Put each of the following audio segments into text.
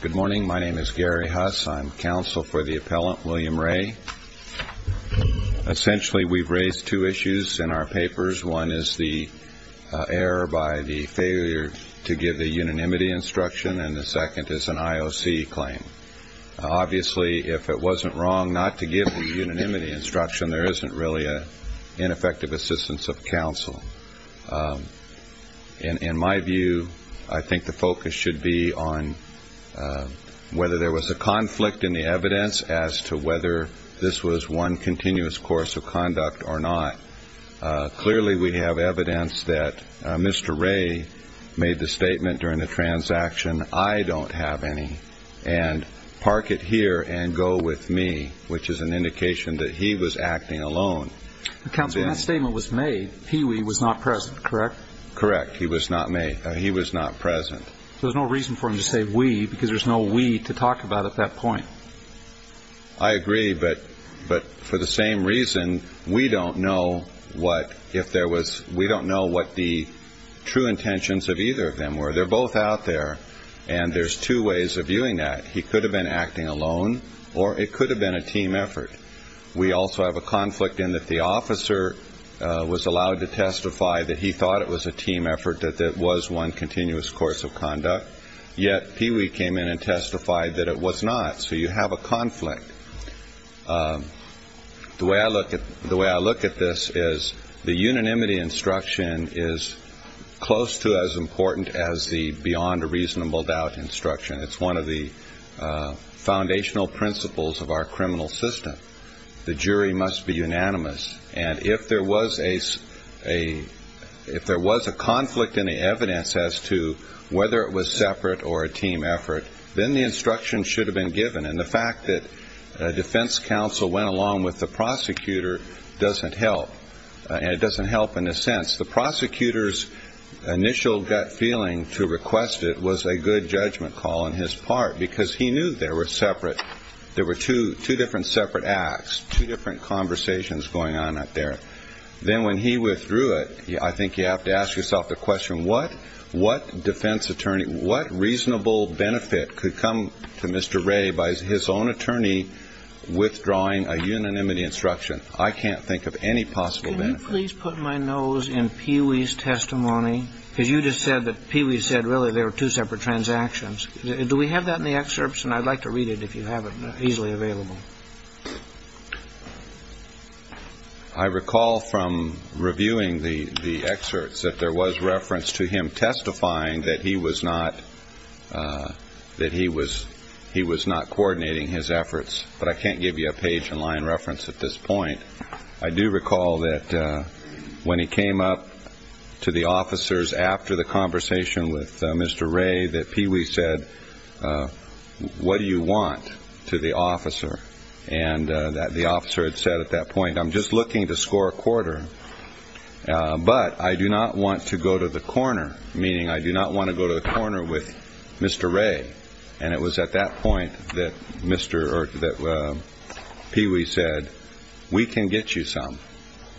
Good morning. My name is Gary Huss. I'm counsel for the appellant, William Ray. Essentially, we've raised two issues in our papers. One is the error by the failure to give the unanimity instruction, and the second is an IOC claim. Obviously, if it wasn't wrong not to give the unanimity instruction, there isn't really an ineffective assistance of counsel. In my view, I think the focus should be on whether there was a conflict in the evidence as to whether this was one continuous course of conduct or not. Clearly, we have evidence that Mr. Ray made the statement during the transaction, I don't have any, and park it here and go with me, which is an indication that he was acting alone. Counsel, when that statement was made, he was not present, correct? Correct. He was not present. There's no reason for him to say we, because there's no we to talk about at that point. I agree, but for the same reason, we don't know what the true intentions of either of them were. They're both out there, and there's two ways of viewing that. He could have been acting alone, or it could have been a team effort. We also have a conflict in that the officer was allowed to testify that he thought it was a team effort, that it was one continuous course of conduct, yet Pee Wee came in and testified that it was not. So you have a conflict. The way I look at this is the unanimity instruction is close to as important as the beyond a reasonable doubt instruction. It's one of the foundational principles of our criminal system. The jury must be unanimous. And if there was a conflict in the evidence as to whether it was separate or a team effort, then the instruction should have been given. And the fact that defense counsel went along with the prosecutor doesn't help, and it doesn't help in a sense. The prosecutor's initial gut feeling to request it was a good judgment call on his part because he knew they were separate. There were two different separate acts, two different conversations going on up there. Then when he withdrew it, I think you have to ask yourself the question, what defense attorney, what reasonable benefit could come to Mr. Ray by his own attorney withdrawing a unanimity instruction? I can't think of any possible benefit. Can you please put my nose in Peewee's testimony? Because you just said that Peewee said really there were two separate transactions. Do we have that in the excerpts? And I'd like to read it if you have it easily available. I recall from reviewing the excerpts that there was reference to him testifying that he was not that he was he was not coordinating his efforts. But I can't give you a page in line reference at this point. I do recall that when he came up to the officers after the conversation with Mr. Ray, that Peewee said, what do you want to the officer? And that the officer had said at that point, I'm just looking to score a quarter, but I do not want to go to the corner, meaning I do not want to go to the corner with Mr. Ray. And it was at that point that Mr. Peewee said, we can get you some,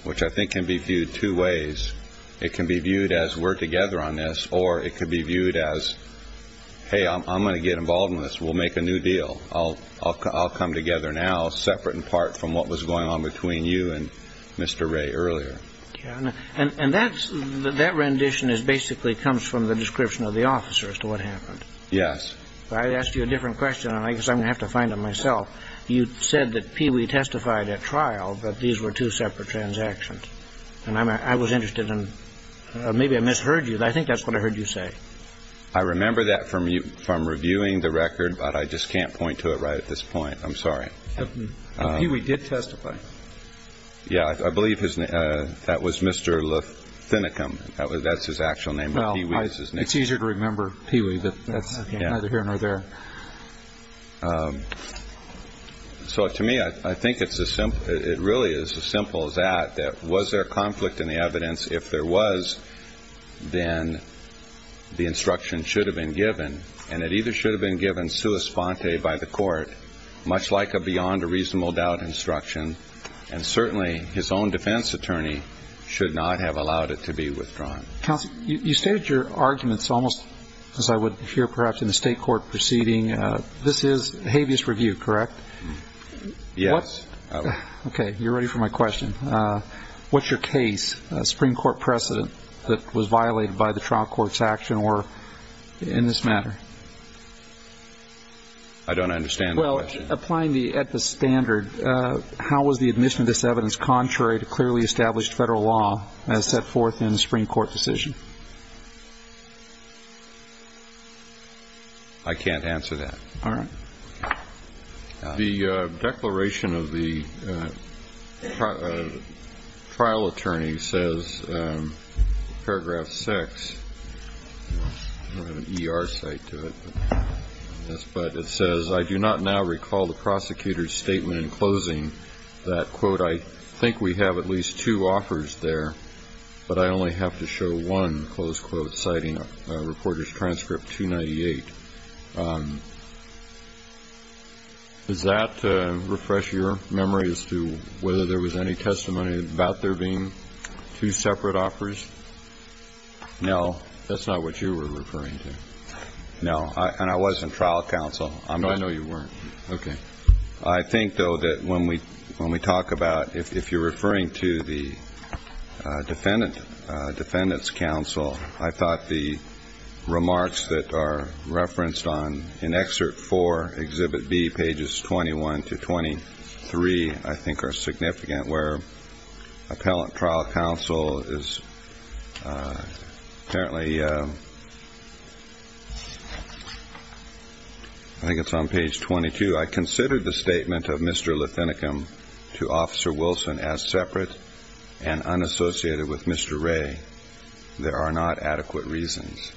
which I think can be viewed two ways. It can be viewed as we're together on this or it could be viewed as, hey, I'm going to get involved in this. We'll make a new deal. I'll come together now separate in part from what was going on between you and Mr. Ray earlier. And that's that rendition is basically comes from the description of the officer as to what happened. Yes. I asked you a different question. And I guess I'm going to have to find it myself. You said that Peewee testified at trial that these were two separate transactions. And I was interested in maybe I misheard you. I think that's what I heard you say. I remember that from you from reviewing the record, but I just can't point to it right at this point. I'm sorry. We did testify. Yeah, I believe his name. That was Mr. Luthinicum. That was that's his actual name. Well, it's easier to remember Peewee, but that's neither here nor there. So to me, I think it's as simple. It really is as simple as that. Was there conflict in the evidence? If there was, then the instruction should have been given. And it either should have been given sua sponte by the court, much like a beyond a reasonable doubt instruction. And certainly his own defense attorney should not have allowed it to be withdrawn. Counsel, you stated your arguments almost as I would hear perhaps in the state court proceeding. This is habeas review, correct? Yes. Okay. You're ready for my question. What's your case, a Supreme Court precedent that was violated by the trial court's action or in this matter? I don't understand the question. Applying the standard, how was the admission of this evidence contrary to clearly established federal law as set forth in the Supreme Court decision? I can't answer that. All right. The declaration of the trial attorney says, Paragraph six, your site to it. But it says, I do not now recall the prosecutor's statement in closing that quote. I think we have at least two offers there. But I only have to show one close quote citing reporters transcript 298. Does that refresh your memory as to whether there was any testimony about there being two separate offers? No. That's not what you were referring to. No. And I wasn't trial counsel. No, I know you weren't. Okay. I think, though, that when we talk about if you're referring to the defendant's counsel, I thought the remarks that are referenced in excerpt four, Exhibit B, pages 21 to 23, I think are significant, where appellant trial counsel is apparently ‑‑ I think it's on page 22. I considered the statement of Mr. Lathenicum to Officer Wilson as separate and unassociated with Mr. Ray. There are not adequate reasons.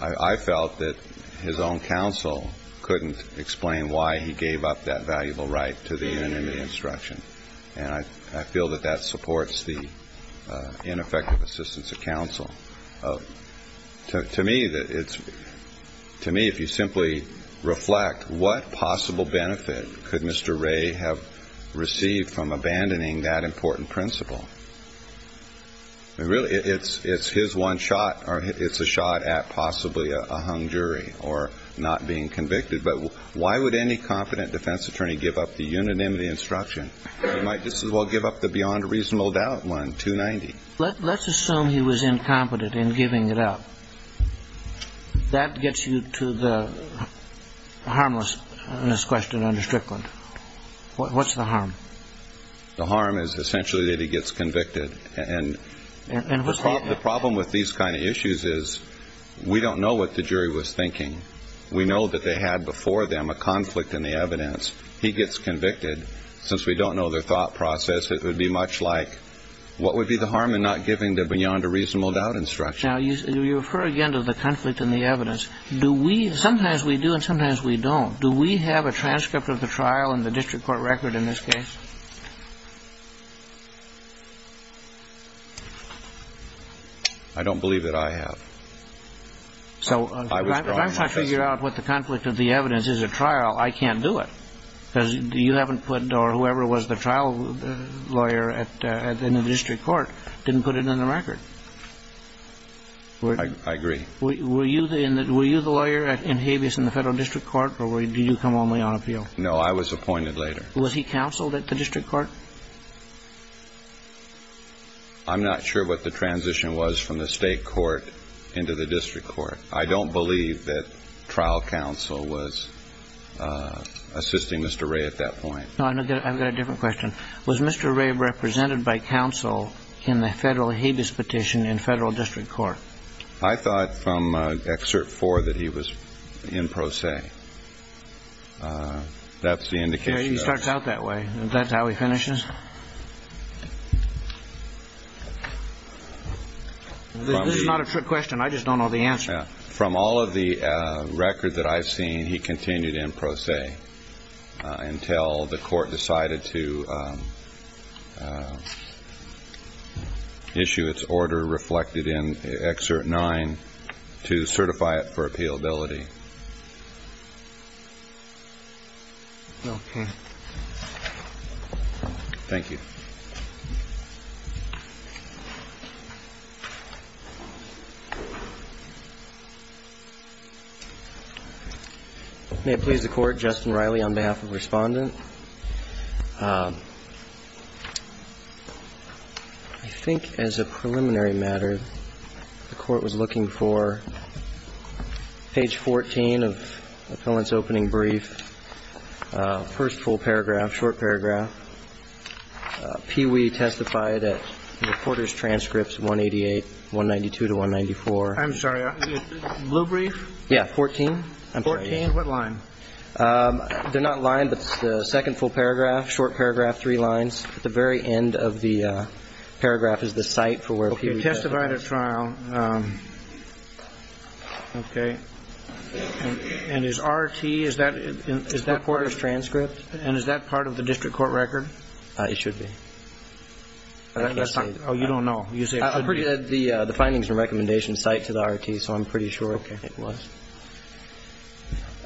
I felt that his own counsel couldn't explain why he gave up that valuable right to the unanimous instruction. And I feel that that supports the ineffective assistance of counsel. To me, if you simply reflect, what possible benefit could Mr. Ray have received from abandoning that important principle? Really, it's his one shot, or it's a shot at possibly a hung jury or not being convicted. But why would any competent defense attorney give up the unanimity instruction? He might just as well give up the beyond reasonable doubt one, 290. Let's assume he was incompetent in giving it up. That gets you to the harmlessness question under Strickland. What's the harm? The harm is essentially that he gets convicted. And the problem with these kind of issues is we don't know what the jury was thinking. We know that they had before them a conflict in the evidence. He gets convicted. Since we don't know their thought process, it would be much like what would be the harm in not giving the beyond a reasonable doubt instruction? Now, you refer again to the conflict in the evidence. Do we sometimes we do and sometimes we don't. Do we have a transcript of the trial in the district court record in this case? I don't believe that I have. So if I'm trying to figure out what the conflict of the evidence is at trial, I can't do it. Because you haven't put or whoever was the trial lawyer in the district court didn't put it in the record. I agree. Were you the lawyer in Habeas in the federal district court or did you come only on appeal? No, I was appointed later. Was he counseled at the district court? I'm not sure what the transition was from the state court into the district court. I don't believe that trial counsel was assisting Mr. Ray at that point. I've got a different question. Was Mr. Ray represented by counsel in the federal Habeas petition in federal district court? I thought from excerpt four that he was in pro se. That's the indication. He starts out that way. That's how he finishes. This is not a trick question. I just don't know the answer. From all of the record that I've seen, he continued in pro se until the court decided to issue its order reflected in excerpt nine to certify it for appealability. Thank you. May it please the Court. Justin Riley on behalf of Respondent. I think as a preliminary matter, the court was looking for page 14 of appellant's opening brief, first full paragraph, short paragraph, Pee Wee testified at reporter's transcripts, 188, 192 to 194. I'm sorry, blue brief? Yeah, 14. 14, what line? They're not line, but it's the second full paragraph, short paragraph, three lines. At the very end of the paragraph is the site for where Pee Wee testified. Okay, testified at trial. Okay. And is RT, is that reporter's transcript? And is that part of the district court record? It should be. Oh, you don't know. The findings and recommendations cite to the RT, so I'm pretty sure it was.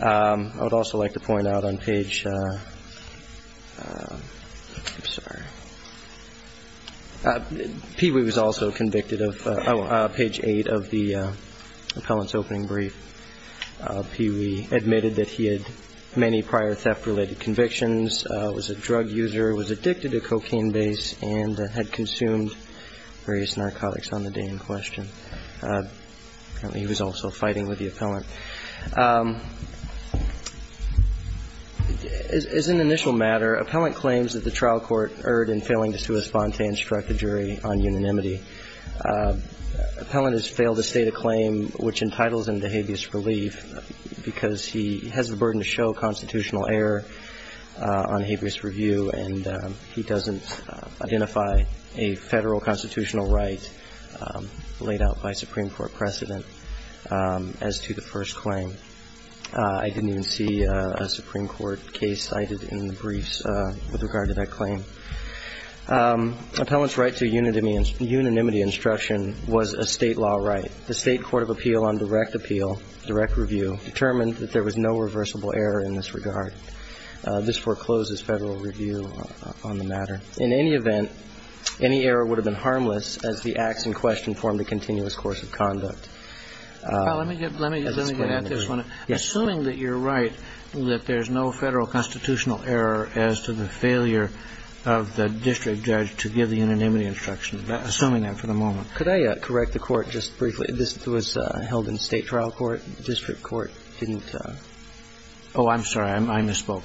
I would also like to point out on page, I'm sorry, Pee Wee was also convicted of page eight of the appellant's opening brief. Pee Wee admitted that he had many prior theft-related convictions, was a drug user, was addicted to cocaine base, and had consumed various narcotics on the day in question. Apparently, he was also fighting with the appellant. As an initial matter, appellant claims that the trial court erred in failing to sui sponte and struck the jury on unanimity. Appellant has failed to state a claim which entitles him to habeas relief because he has the burden to show constitutional error on habeas review, and he doesn't identify a federal constitutional right laid out by Supreme Court precedent as to the first claim. I didn't even see a Supreme Court case cited in the briefs with regard to that claim. Appellant's right to unanimity instruction was a state law right. The state court of appeal on direct appeal, direct review, determined that there was no reversible error in this regard. This forecloses federal review on the matter. In any event, any error would have been harmless as the acts in question formed a continuous course of conduct. Well, let me get at this one. Assuming that you're right, that there's no federal constitutional error as to the failure of the district judge to give the unanimity instruction, assuming that for the moment. Could I correct the Court just briefly? This was held in State trial court. District court didn't. Oh, I'm sorry. I misspoke.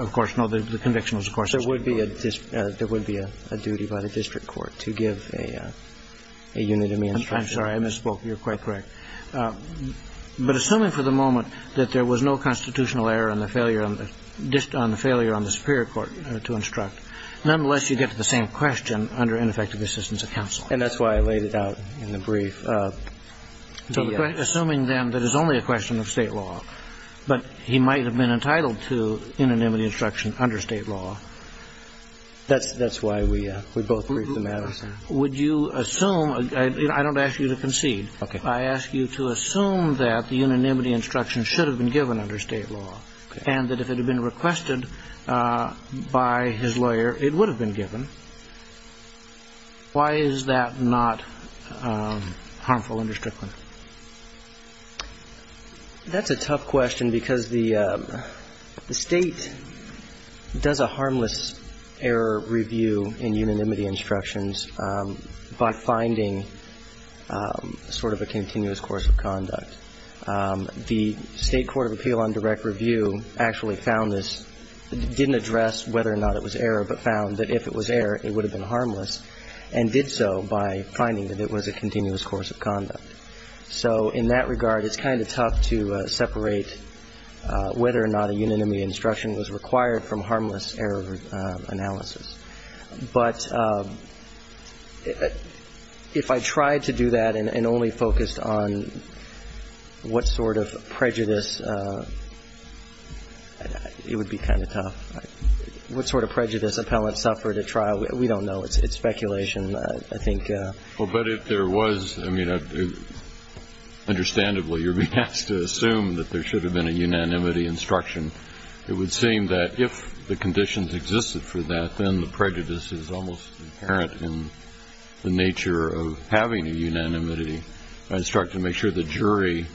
Of course, no. The conviction was, of course. There would be a duty by the district court to give a unanimity instruction. I'm sorry. I misspoke. You're quite correct. But assuming for the moment that there was no constitutional error on the failure on the Superior Court to instruct, nonetheless, you get to the same question under ineffective assistance of counsel. And that's why I laid it out in the brief. Assuming then that it's only a question of State law, but he might have been entitled to unanimity instruction under State law. That's why we both agreed to the matter. Would you assume – I don't ask you to concede. Okay. I ask you to assume that the unanimity instruction should have been given under State law. Okay. And that if it had been requested by his lawyer, it would have been given. Why is that not harmful under Strickland? That's a tough question because the State does a harmless error review in unanimity instructions by finding sort of a continuous course of conduct. The State Court of Appeal on direct review actually found this – didn't address whether or not it was error, but found that if it was error, it would have been harmless, and did so by finding that it was a continuous course of conduct. So in that regard, it's kind of tough to separate whether or not a unanimity instruction was required from harmless error analysis. But if I tried to do that and only focused on what sort of prejudice – it would be kind of tough. What sort of prejudice appellants suffered at trial, we don't know. It's speculation, I think. Well, but if there was – I mean, understandably, you're being asked to assume that there should have been a unanimity instruction. It would seem that if the conditions existed for that, then the prejudice is almost inherent in the nature of having a unanimity instruction. Make sure the jury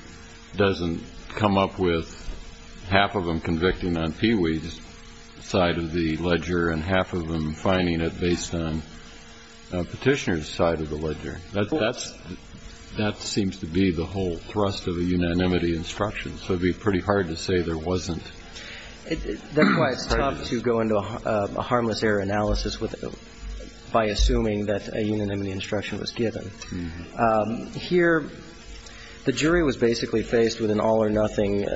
doesn't come up with half of them convicting on Peewee's side of the ledger and half of them finding it based on Petitioner's side of the ledger. That seems to be the whole thrust of a unanimity instruction. So it would be pretty hard to say there wasn't. That's why it's tough to go into a harmless error analysis by assuming that a unanimity instruction was given. Here, the jury was basically faced with an all-or-nothing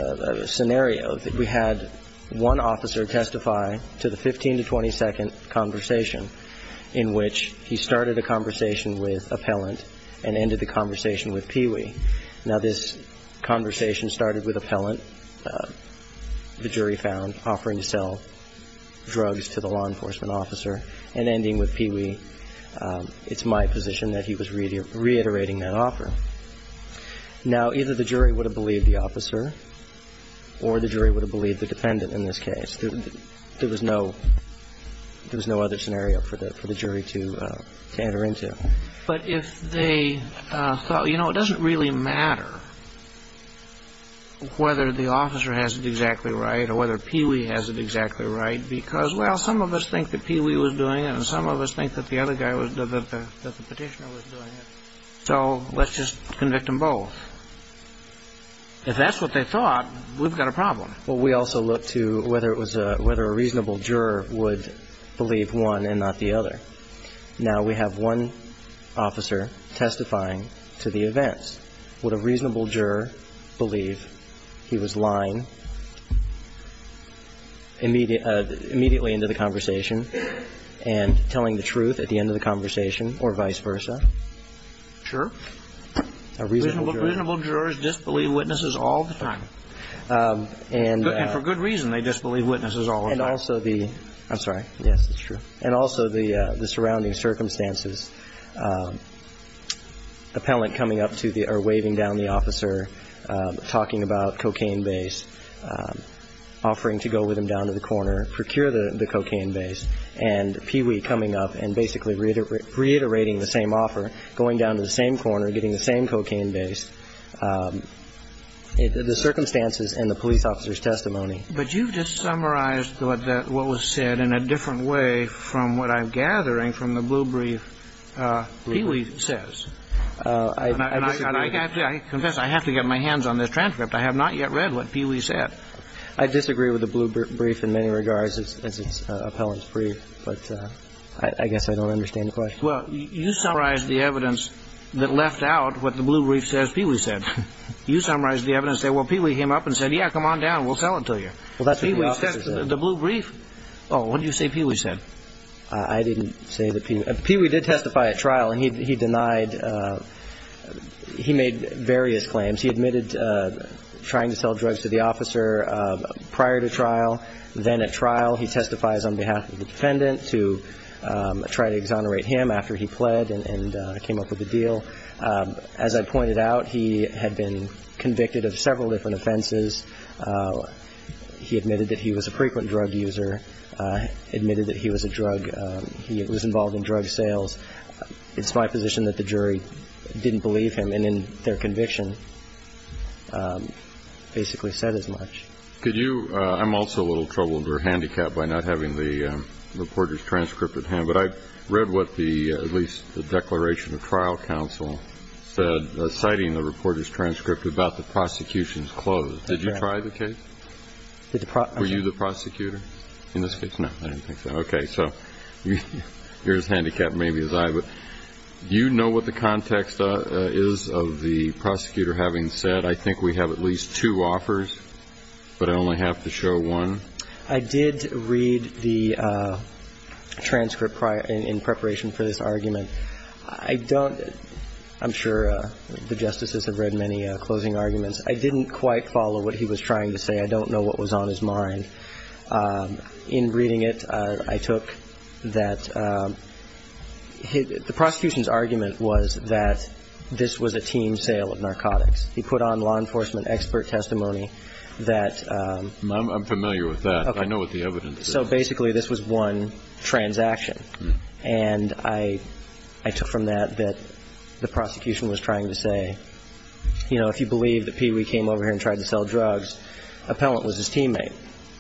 scenario. We had one officer testify to the 15-to-20-second conversation in which he started a conversation with appellant and ended the conversation with Peewee. Now, this conversation started with appellant. The jury found offering to sell drugs to the law enforcement officer and ending with Peewee. It's my position that he was reiterating that offer. Now, either the jury would have believed the officer or the jury would have believed the defendant in this case. There was no other scenario for the jury to enter into. But if they thought, you know, it doesn't really matter whether the officer has it exactly right or whether Peewee has it exactly right because, well, some of us think that Peewee was doing it and some of us think that the other guy was, that the Petitioner was doing it. So let's just convict them both. If that's what they thought, we've got a problem. Well, we also look to whether it was a, whether a reasonable juror would believe one and not the other. Now, we have one officer testifying to the events. Would a reasonable juror believe he was lying immediately into the conversation and telling the truth at the end of the conversation or vice versa? A reasonable juror. Reasonable jurors disbelieve witnesses all the time. And for good reason, they disbelieve witnesses all the time. And also the, I'm sorry. Yes, it's true. And also the surrounding circumstances, appellant coming up to the, or waving down the officer, talking about cocaine base, offering to go with him down to the corner, procure the cocaine base, and Peewee coming up and basically reiterating the same offer, going down to the same corner, getting the same cocaine base, the circumstances and the police officer's testimony. But you've just summarized what was said in a different way from what I'm gathering from the blue brief Peewee says. I disagree. And I confess I have to get my hands on this transcript. I have not yet read what Peewee said. I disagree with the blue brief in many regards as its appellant's brief, but I guess I don't understand the question. Well, you summarized the evidence that left out what the blue brief says Peewee said. You summarized the evidence that, well, Peewee came up and said, yeah, come on down. We'll tell it to you. Well, that's what the officer said. The blue brief. Oh, what did you say Peewee said? I didn't say that Peewee, Peewee did testify at trial, and he denied, he made various claims. He admitted trying to sell drugs to the officer prior to trial. Then at trial, he testifies on behalf of the defendant to try to exonerate him after he pled and came up with a deal. As I pointed out, he had been convicted of several different offenses. He admitted that he was a frequent drug user, admitted that he was a drug, he was involved in drug sales. It's my position that the jury didn't believe him, and in their conviction basically said as much. Could you, I'm also a little troubled or handicapped by not having the reporter's transcript at hand, but I read what the, at least the declaration of trial counsel said, citing the reporter's transcript about the prosecution's close. Did you try the case? Were you the prosecutor? In this case, no, I didn't think so. Okay, so you're as handicapped maybe as I was. Do you know what the context is of the prosecutor having said, I think we have at least two offers, but I only have to show one? I did read the transcript prior, in preparation for this argument. I don't, I'm sure the justices have read many closing arguments. I didn't quite follow what he was trying to say. I don't know what was on his mind. In reading it, I took that the prosecution's argument was that this was a team sale of narcotics. He put on law enforcement expert testimony that I'm familiar with that. I know what the evidence is. So basically this was one transaction. And I took from that that the prosecution was trying to say, you know, if you believe that Pee Wee came over here and tried to sell drugs, Appellant was his teammate.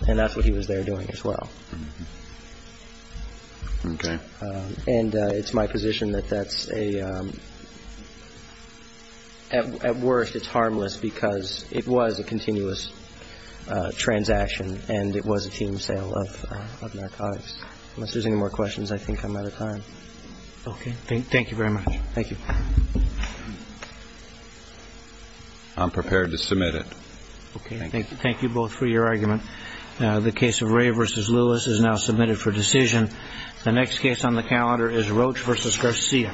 And that's what he was there doing as well. Okay. And it's my position that that's a, at worst it's harmless because it was a continuous transaction and it was a team sale of narcotics. Unless there's any more questions, I think I'm out of time. Okay. Thank you very much. Thank you. I'm prepared to submit it. Okay. Thank you both for your argument. The case of Ray v. Lewis is now submitted for decision. The next case on the calendar is Roach v. Garcia.